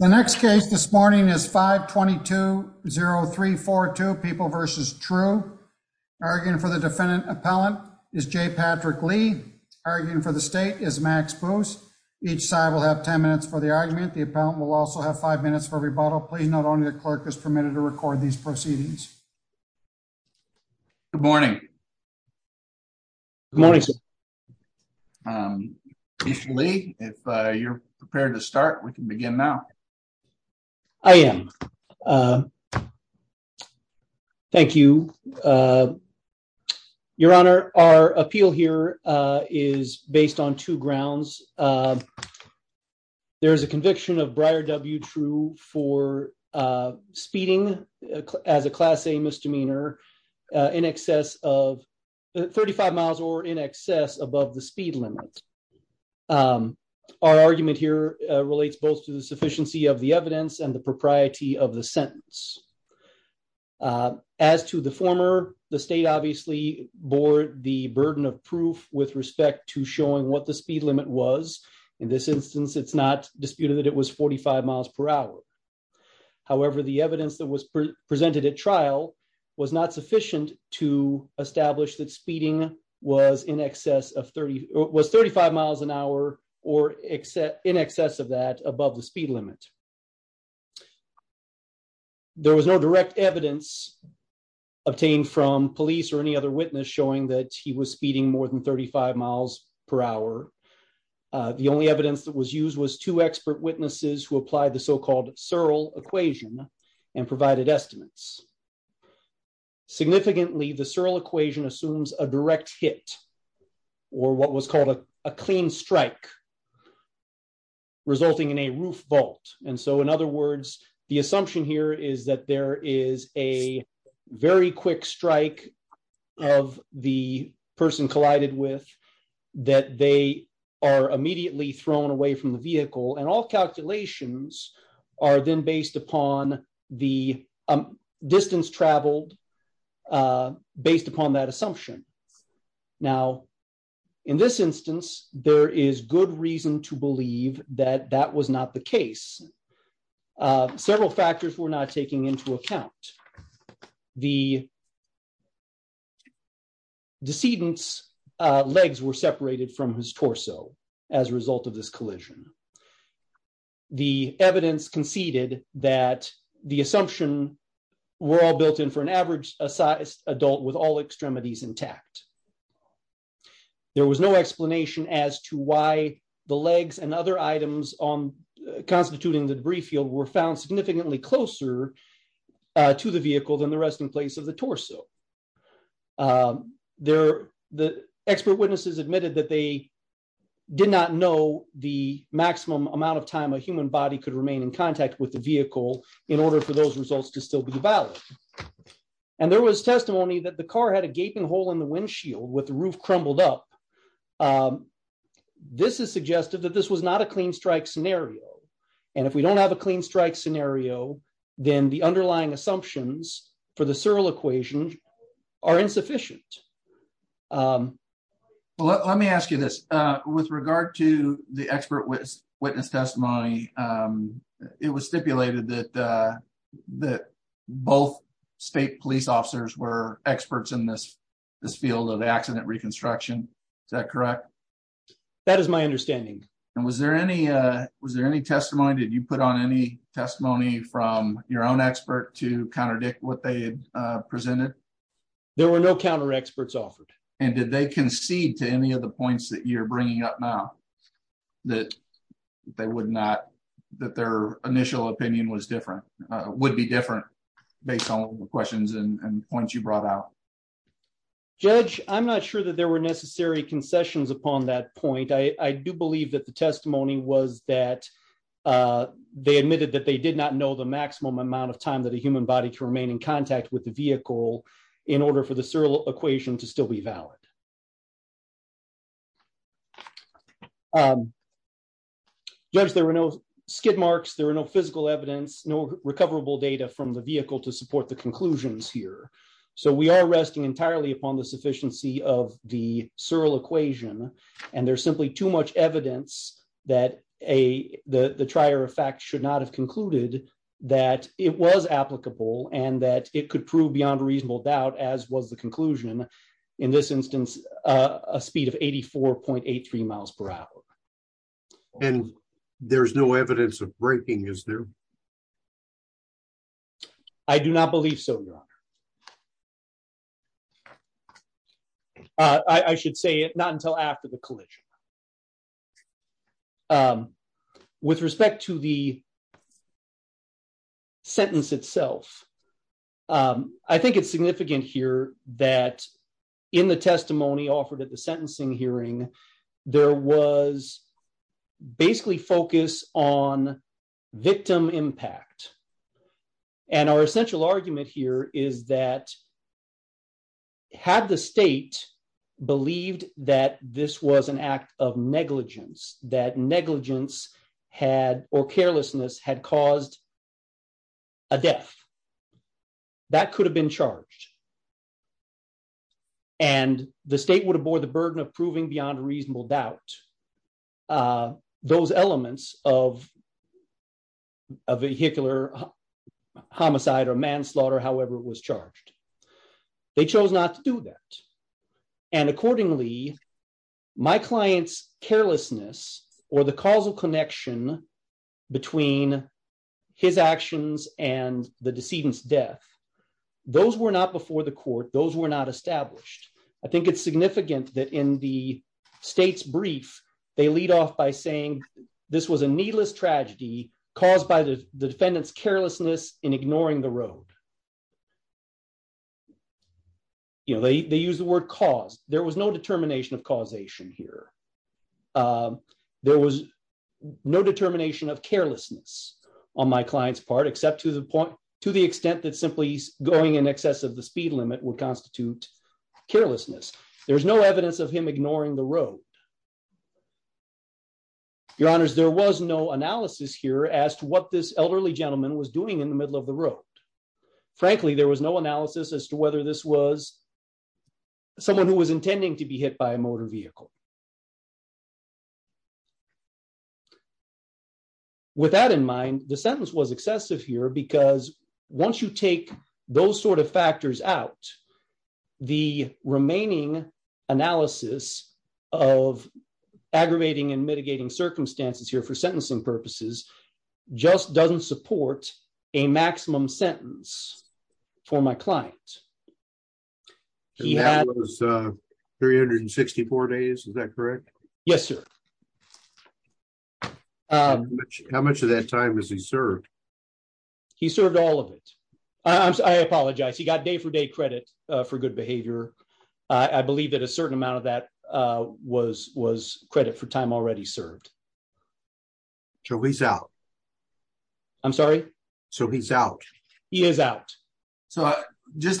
The next case this morning is 52030342 People v. True arguing for the defendant appellant is J. Patrick Lee arguing for the state is Max Booth. Each side will have 10 minutes for the argument. The appellant will also have five minutes for rebuttal. Please note only the clerk is permitted to record these proceedings. Good morning. Good morning, sir. If you're prepared to start, we can begin now. I am. Thank you. Your Honor, our appeal here is based on two grounds. There is a conviction of Breyer W. True for speeding as a Class A misdemeanor in excess of 35 miles or in excess above the speed limit. Our argument here relates both to the sufficiency of the evidence and the propriety of the sentence. As to the former, the state obviously bore the burden of proof with respect to showing what the speed limit was. In this instance, it's not disputed that it was 45 miles per hour. However, the evidence that was presented at trial was not sufficient to establish that speeding was in excess of 30 was 35 miles an hour or except in excess of that above the speed limit. There was no direct evidence obtained from police or any other witness showing that he was speeding more than 35 miles per hour. The only evidence that was used was two expert witnesses who applied the so-called Searle equation and provided estimates. Significantly, the Searle equation assumes a direct hit or what was called a clean strike resulting in a roof vault. And so in other words, the evidence that the defendant provided with that they are immediately thrown away from the vehicle and all calculations are then based upon the distance traveled based upon that assumption. Now, in this instance, there is good reason to believe that that was not the case. Several factors were not taken into account. The decedent's legs were separated from his torso as a result of this collision. The evidence conceded that the assumption were all built in for an average sized adult with all extremities intact. There was no explanation as to why the legs and other items on constituting the debris field were found significantly closer to the vehicle than the resting place of the torso. The expert witnesses admitted that they did not know the maximum amount of time a human body could remain in contact with the vehicle in order for those results to still be valid. And there was testimony that the car had a gaping hole in the windshield with the roof crumbled up. Um, this is suggestive that this was not a clean strike scenario. And if we don't have a clean strike scenario, then the underlying assumptions for the Searle equation are insufficient. Um, well, let me ask you this, uh, with regard to the expert witness testimony, um, it was stipulated that, uh, that both state police officers were experts in this, this field of reconstruction. Is that correct? That is my understanding. And was there any, uh, was there any testimony that you put on any testimony from your own expert to counterdict what they, uh, presented? There were no counter experts offered. And did they concede to any of the points that you're bringing up now that they would not, that their initial opinion was different, uh, would be different based on the questions and points you brought out? Judge, I'm not sure that there were necessary concessions upon that point. I do believe that the testimony was that, uh, they admitted that they did not know the maximum amount of time that a human body to remain in contact with the vehicle in order for the Searle equation to still be valid. Um, judge, there were no skid marks. There were no physical evidence, no recoverable data from the vehicle to support the conclusions here. So we are resting entirely upon the sufficiency of the Searle equation. And there's simply too much evidence that a, the, the trier of fact should not have concluded that it was applicable and that it could prove beyond reasonable doubt as was the conclusion in this instance, uh, a speed of 84.83 miles per hour. And there's no evidence of breaking, is there? I do not believe so, your honor. Uh, I, I should say it not until after the collision, um, with respect to the sentence itself. Um, I think it's significant here that in the testimony offered at the sentencing hearing, there was basically focus on victim impact. And our essential argument here is that had the state believed that this was an act of negligence, that negligence had, or carelessness had caused a death that could have been charged. And the state would have bore the burden of proving beyond reasonable doubt, uh, those elements of a vehicular homicide or manslaughter, however it was charged. They chose not to do that. And accordingly, my client's carelessness or the causal connection between his actions and the decedent's death, those were not before the court. Those were not established. I think it's significant that in the state's brief, they lead off by saying, this was a needless tragedy caused by the defendant's carelessness in ignoring the road. You know, they, they use the word cause. There was no determination of causation here. Um, there was no determination of carelessness on my client's part, except to the point, to the extent that simply going in excess of the speed limit would constitute carelessness. There's no evidence of him ignoring the road. Your honors, there was no analysis here as to what this elderly gentleman was doing in the middle of the road. Frankly, there was no analysis as to whether this was someone who was intending to be hit by a motor vehicle. With that in mind, the sentence was excessive here because once you take those sort of factors out, the remaining analysis of aggravating and mitigating circumstances here for sentencing purposes just doesn't support a maximum sentence for my client. And that was 364 days, is that correct? Yes, sir. How much of that time has he served? He served all of it. I apologize. He got day-for-day credit for good behavior. I believe that a certain amount of that was credit for time already served. So he's out? I'm sorry? So he's out? He is out. So just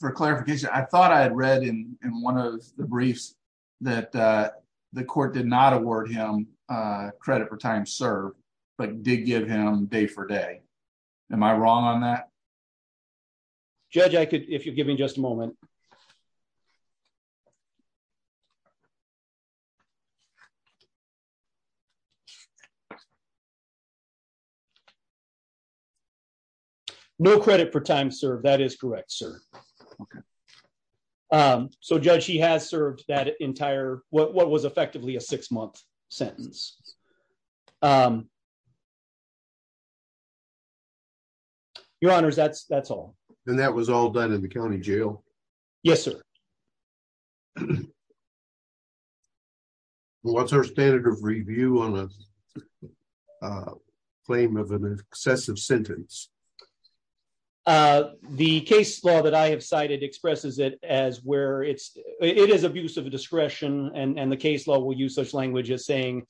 for clarification, I thought I had read in one of the briefs that the court did not award him credit for time served, but did give him day-for-day. Am I wrong on that? Judge, if you'll give me just a moment. No credit for time served. That is correct, sir. Okay. So, Judge, he has served that entire, what was effectively a six-month sentence. Your honors, that's all. And that was all done in the county jail? Yes, sir. And what's our standard of review on a claim of an excessive sentence? The case law that I have cited expresses it as where it is abuse of discretion, and the case law will use such language as saying,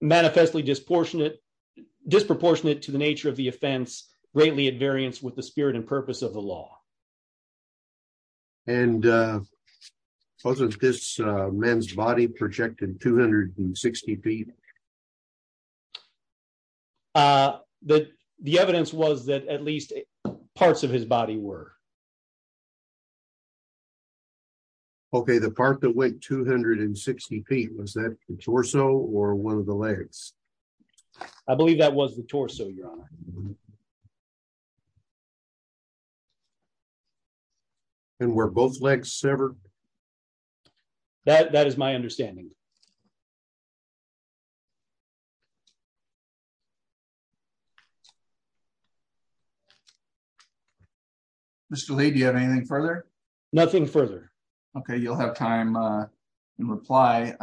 manifestly disproportionate to the nature of the offense, greatly at variance with the spirit and purpose of the law. And wasn't this man's body projected 260 feet? The evidence was that at least parts of his body were. Okay, the part that went 260 feet, was that the torso or one of the legs? I believe that was the torso, your honor. And were both legs severed? That is my understanding. Mr. Lee, do you have anything further? Nothing further. Okay, you'll have time to reply.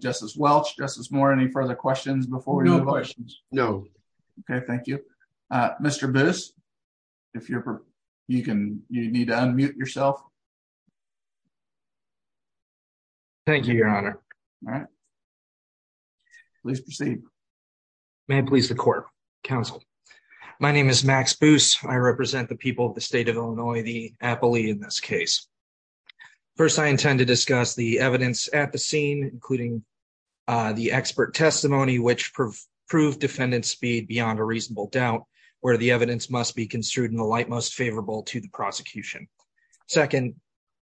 Justice Welch, Justice Moore, any further questions before we move on? No questions. No. Okay, thank you. Mr. Boos, if you need to unmute yourself. Thank you, your honor. All right. Please proceed. May it please the court, counsel. My name is Max Boos. I represent the people of the state of Illinois, the appellee in this case. First, I intend to discuss the evidence at the scene, including the expert testimony, which proved defendant's speed beyond a reasonable doubt, where the evidence must be construed in the light most favorable to the prosecution. Second,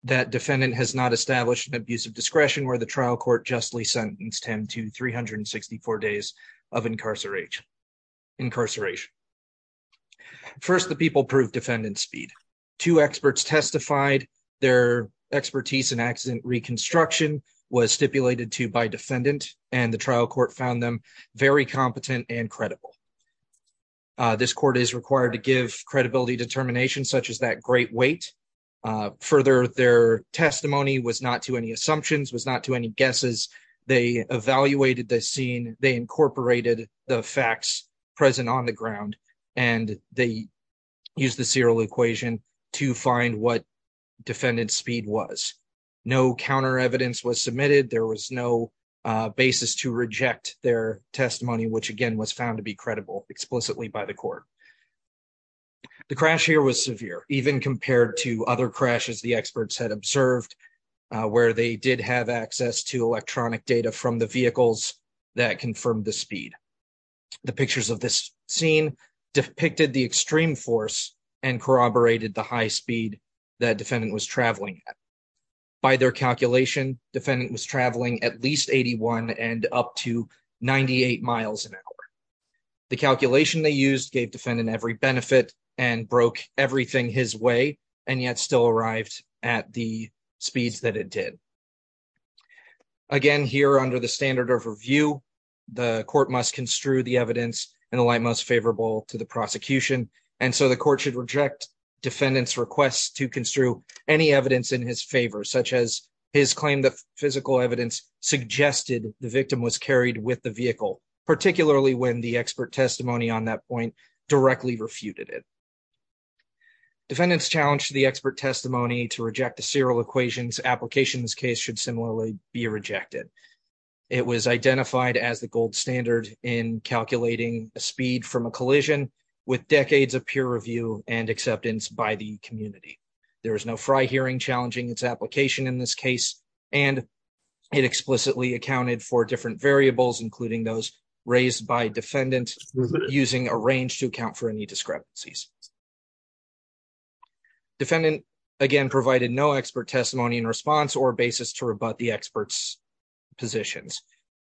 that defendant has not established an abuse of discretion where the trial court justly sentenced him to 364 days of incarceration. First, the people proved defendant's speed. Two experts testified. Their expertise in accident reconstruction was stipulated to by defendant, and the trial court found them very competent and credible. This court is required to give credibility determinations such as that great weight. Further, their testimony was not to any assumptions, was not to any guesses. They evaluated the scene. They incorporated the facts present on the ground, and they used the equation to find what defendant's speed was. No counter evidence was submitted. There was no basis to reject their testimony, which, again, was found to be credible explicitly by the court. The crash here was severe, even compared to other crashes the experts had observed, where they did have access to electronic data from the vehicles that confirmed the speed. The pictures of this scene depicted the extreme force and corroborated the high speed that defendant was traveling at. By their calculation, defendant was traveling at least 81 and up to 98 miles an hour. The calculation they used gave defendant every benefit and broke everything his way, and yet still arrived at the speeds that it did. Again, here under the standard of review, the court must construe the evidence in a light most favorable to the prosecution, and so the court should reject defendant's requests to construe any evidence in his favor, such as his claim that physical evidence suggested the victim was carried with the vehicle, particularly when the expert testimony on that point directly refuted it. Defendants challenged the expert testimony to reject the serial equations application. This case should similarly be rejected. It was identified as the gold standard in calculating a speed from a collision with decades of peer review and acceptance by the community. There was no fry hearing challenging its application in this case, and it explicitly accounted for different variables, including those raised by defendant using a range to for any discrepancies. Defendant, again, provided no expert testimony in response or basis to rebut the expert's positions.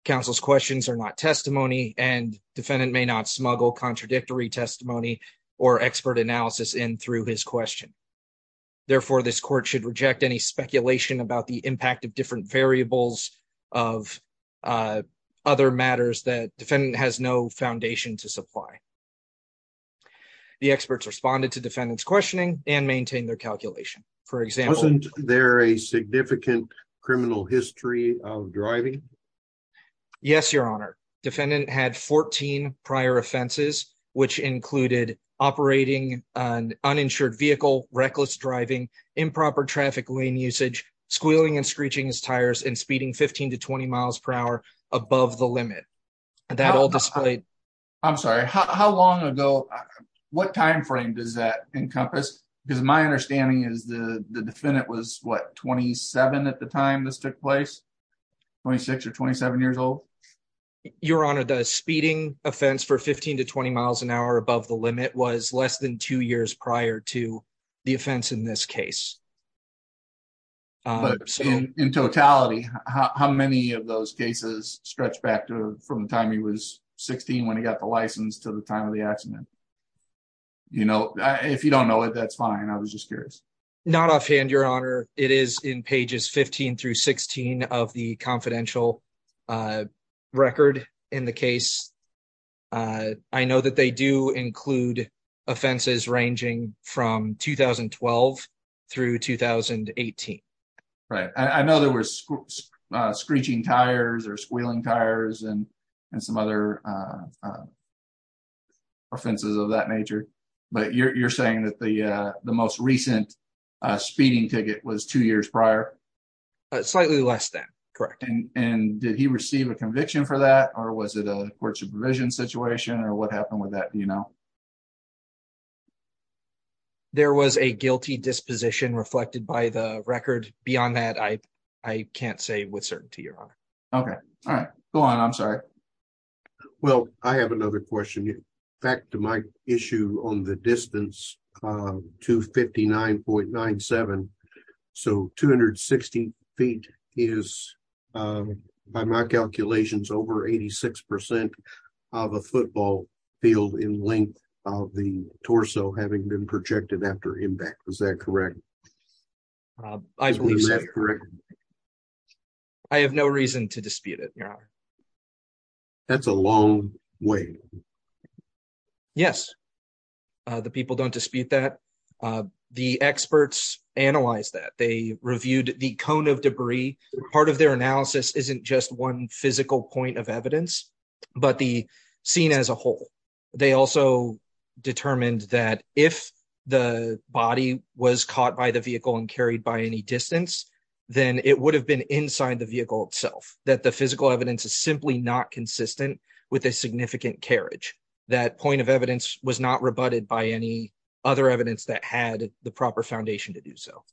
Counsel's questions are not testimony, and defendant may not smuggle contradictory testimony or expert analysis in through his question. Therefore, this court should reject any speculation about the impact of different variables of other matters that has no foundation to supply. The experts responded to defendant's questioning and maintained their calculation. For example, there a significant criminal history of driving? Yes, your honor. Defendant had 14 prior offenses, which included operating an uninsured vehicle, reckless driving, improper traffic lane usage, squealing and screeching his tires, and speeding to 15 to 20 miles per hour above the limit. That all displayed. I'm sorry, how long ago, what time frame does that encompass? Because my understanding is the defendant was what, 27 at the time this took place? 26 or 27 years old? Your honor, the speeding offense for 15 to 20 miles an hour above the limit was less than two years prior to the offense in this case. But in totality, how many of those cases stretch back to from the time he was 16 when he got the license to the time of the accident? You know, if you don't know it, that's fine. I was just curious. Not offhand, your honor. It is in pages 15 through 16 of the confidential record in the case. I know that they do include offenses ranging from 2012 through 2018. Right. I know there were screeching tires or squealing tires and some other offenses of that nature. But you're saying that the most recent speeding ticket was two years prior? Slightly less than, correct. And did he have a police supervision situation or what happened with that? Do you know? There was a guilty disposition reflected by the record. Beyond that, I can't say with certainty, your honor. Okay. All right. Go on. I'm sorry. Well, I have another question. Back to my issue on the distance. 259.97. So 260 feet is by my calculations over 86 percent of a football field in length of the torso having been projected after impact. Is that correct? I believe so. I have no reason to dispute it, your honor. That's a long way. Yes. The people don't dispute that. The experts analyzed that. They reviewed the cone of debris. Part of their analysis isn't just one physical point of evidence, but the scene as a whole. They also determined that if the body was caught by the vehicle and carried by any distance, then it would have been inside the vehicle itself. That the physical evidence is simply not consistent with a significant carriage. That point of evidence was not rebutted by any other evidence that had the proper foundation to do so.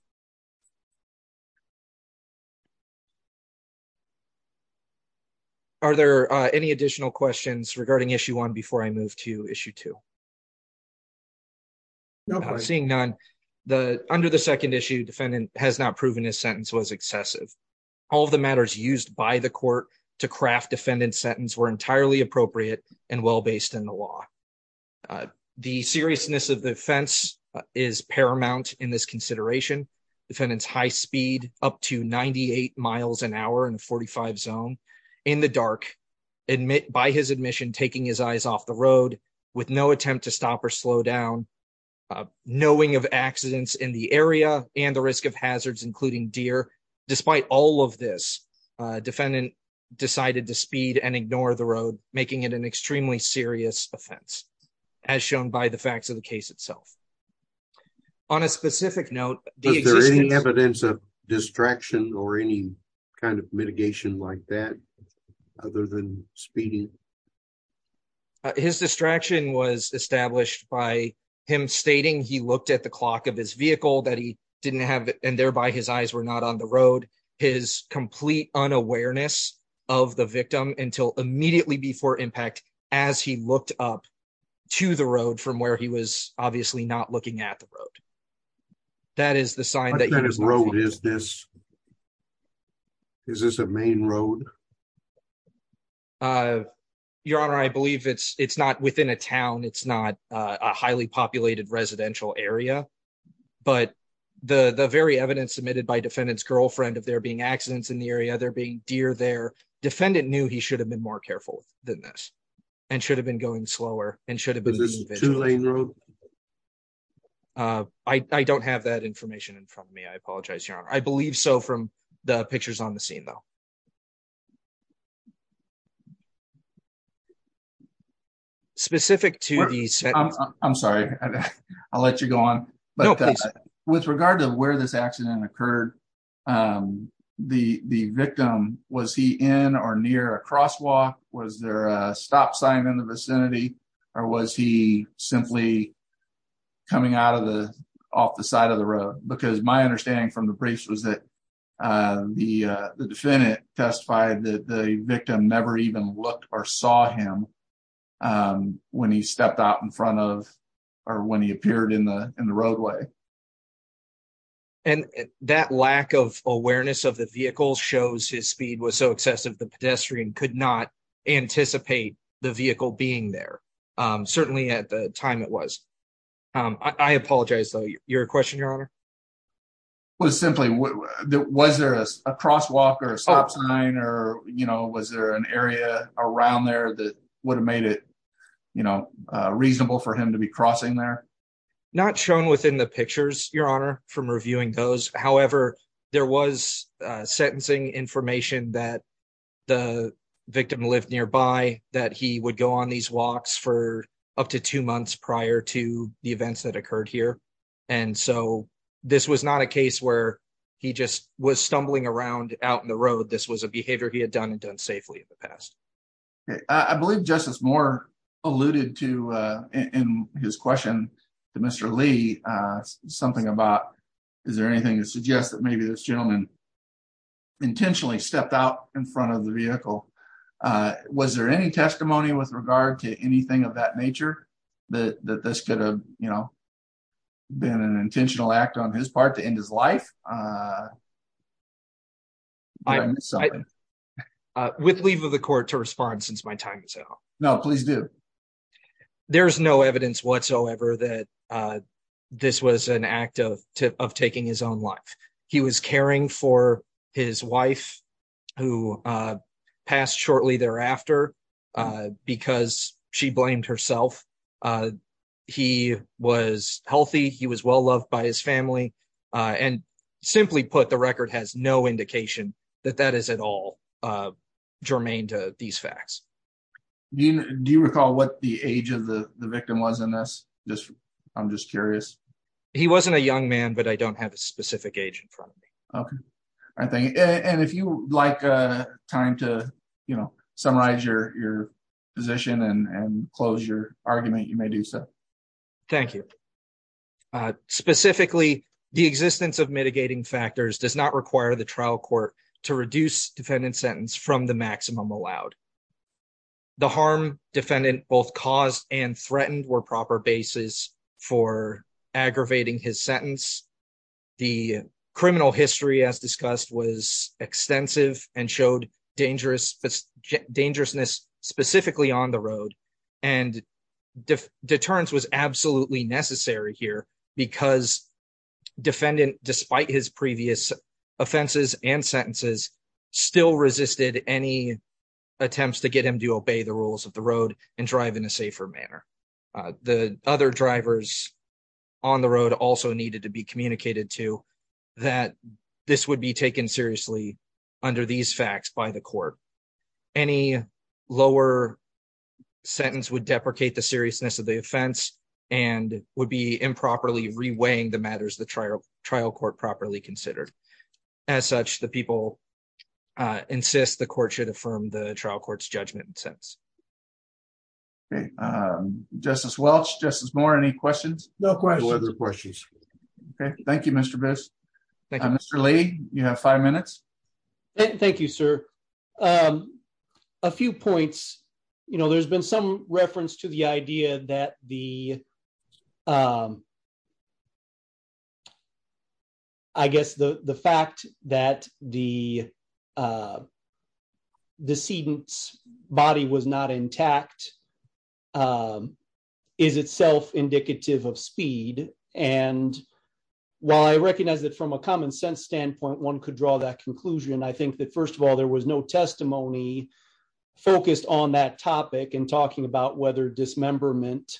Are there any additional questions regarding issue one before I move to issue two? No, seeing none. Under the second issue, defendant has not proven his sentence was excessive. All the matters used by the court to craft defendant's sentence were entirely appropriate and well-based in the law. The seriousness of the offense is paramount in this consideration. Defendant's high speed up to 98 miles an hour in a 45 zone in the dark by his admission taking his eyes off the road with no attempt to stop or slow down, knowing of accidents in the area and the risk of hazards, including deer. Despite all of this, defendant decided to speed and ignore the road, making it an extremely serious offense as shown by the facts of the case itself. On a specific note, is there any evidence of distraction or any kind of mitigation like that? Other than speeding? His distraction was established by him stating he looked at the vehicle and thereby his eyes were not on the road. His complete unawareness of the victim until immediately before impact as he looked up to the road from where he was obviously not looking at the road. What kind of road is this? Is this a main road? Your honor, I believe it's not within a town. It's not a highly populated residential area, but the the very evidence submitted by defendant's girlfriend of there being accidents in the area, there being deer there, defendant knew he should have been more careful than this and should have been going slower and should have I don't have that information in front of me. I apologize, your honor. I believe so from the pictures on the scene though. Specific to these. I'm sorry. I'll let you go on. But with regard to where this accident occurred, the victim, was he in or near a crosswalk? Was there a stop sign in the vicinity or was he simply coming out of the off the side of the road? Because my understanding from the briefs was that the defendant testified that the victim never even looked or saw him when he stepped out in front of or when he appeared in the roadway. And that lack of awareness of the vehicle shows his speed was so excessive the pedestrian could not anticipate the vehicle being there. Certainly at the time it was. I apologize though. Your question, your honor was simply was there a crosswalk or a stop sign or was there an area around there that would have made it reasonable for him to be crossing there? Not shown within the pictures, your honor, from reviewing those. However, there was sentencing information that the victim lived nearby that he would go on these walks for up to two months prior to the events that occurred here. And so this was not a case where he just was stumbling around out in the road. This was a behavior he had done and done safely in the past. I believe Justice Moore alluded to in his question to Mr. Lee something about is there anything to suggest that maybe this gentleman intentionally stepped out in front of the vehicle? Was there any testimony with regard to anything of that nature that this could have been an intentional act on his part to end his life? With leave of the court to respond since my time is out. No, please do. There's no evidence whatsoever that this was an act of taking his own life. He was caring for his wife who passed shortly thereafter because she blamed herself. He was healthy. He was well loved by his family. And simply put, the record has no indication that that is at all germane to these facts. Do you recall what the age of the victim was in this? I'm just curious. He wasn't a young man, but I don't have a specific age in front of me. Okay. And if you like time to summarize your position and close your argument, you may do so. Thank you. Specifically, the existence of mitigating factors does not require the trial court to reduce defendant sentence from the maximum allowed. The harm defendant both caused and threatened were proper basis for aggravating his sentence. The criminal history as discussed was extensive and showed dangerousness specifically on the road. And deterrence was absolutely necessary here because defendant, despite his previous offenses and sentences, still resisted any attempts to get him to obey the rules of the road and drive in a safer manner. The other drivers on the road also needed to be communicated to that this would be taken seriously under these facts by the court. Any lower sentence would deprecate the seriousness of the offense and would be improperly reweighing the matters the trial court properly considered. As such, the court should affirm the trial court's judgment and sentence. Okay. Justice Welch, Justice Moore, any questions? No questions. Okay. Thank you, Mr. Biss. Mr. Lee, you have five minutes. Thank you, sir. A few points. There's been some reference to the idea that the, I guess the fact that the decedent's body was not intact is itself indicative of speed. And while I recognize that from a common sense standpoint, one could draw that conclusion, I think that first of all, there was no testimony focused on that topic and talking about whether dismemberment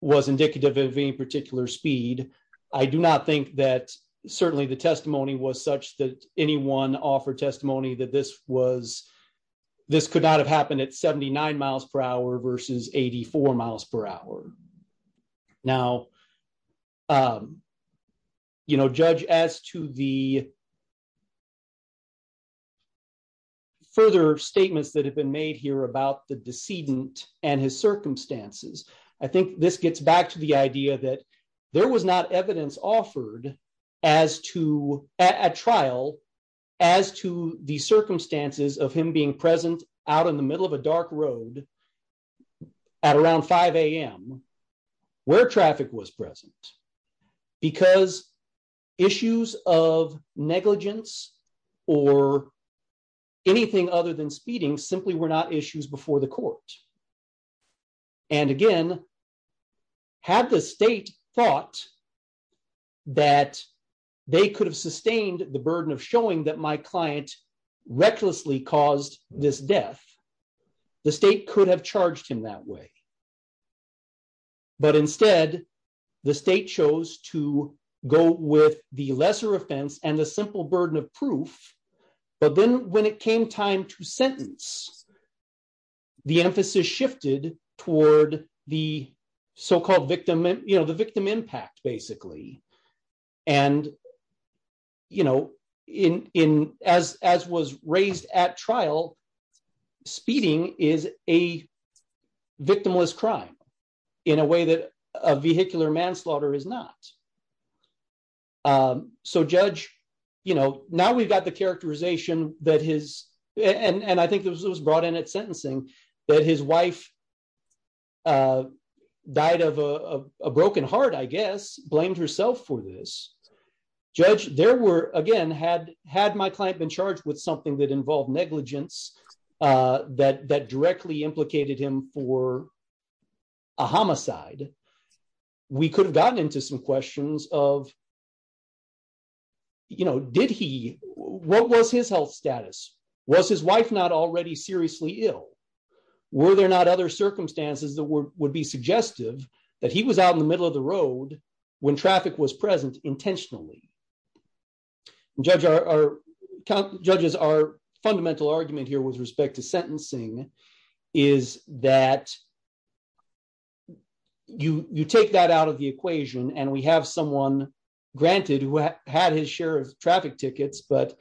was indicative of any particular speed. I do not think that certainly the testimony was such that anyone offered testimony that this could not have happened at 79 miles per hour versus 84 miles per hour. Now, you know, judge, as to the further statements that have been made here about the decedent and his circumstances, I think this gets back to the idea that there was not evidence offered as to, at trial, as to the circumstances of him being present out in the middle of a dark road at around 5 a.m. where traffic was present. Because issues of negligence or anything other than speeding simply were not issues before the court. And again, had the state thought that they could have sustained the burden of showing that my client recklessly caused this death, the state could have charged him that way. But instead, the state chose to go with the lesser offense and the simple burden of proof, but then when it came time to sentence, the emphasis shifted toward the so-called victim, you know, the victim impact, basically. And, you know, as was raised at trial, speeding is a victimless crime in a way that a vehicular manslaughter is not. So, judge, you know, now we've got the characterization that his, and I think it was brought in at sentencing, that his wife died of a broken heart, I guess, blamed herself for this. Judge, there were, again, had my client been charged with something that involved negligence that directly implicated him for a homicide, we could have gotten into some questions of, you know, did he, what was his health status? Was his wife not already seriously ill? Were there not other circumstances that would be suggestive that he was out in the middle of the sentencing? Is that you take that out of the equation, and we have someone granted who had his share of traffic tickets, but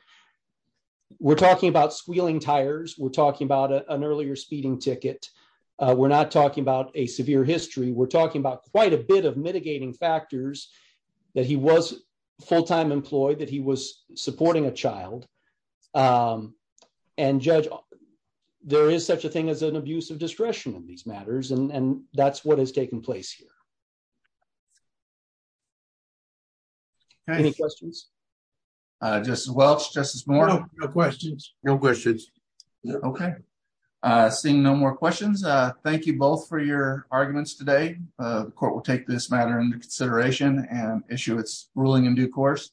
we're talking about squealing tires, we're talking about an earlier speeding ticket, we're not talking about a severe history, we're talking about quite a bit of mitigating factors that he was full-time employed, that he was supporting a child. And, judge, there is such a thing as an abuse of discretion in these matters, and that's what has taken place here. Any questions? Justice Welch, Justice Moore? No questions. No questions. Okay. Seeing no more questions, thank you both for your arguments today. The court will take this matter into consideration and issue its ruling in due course.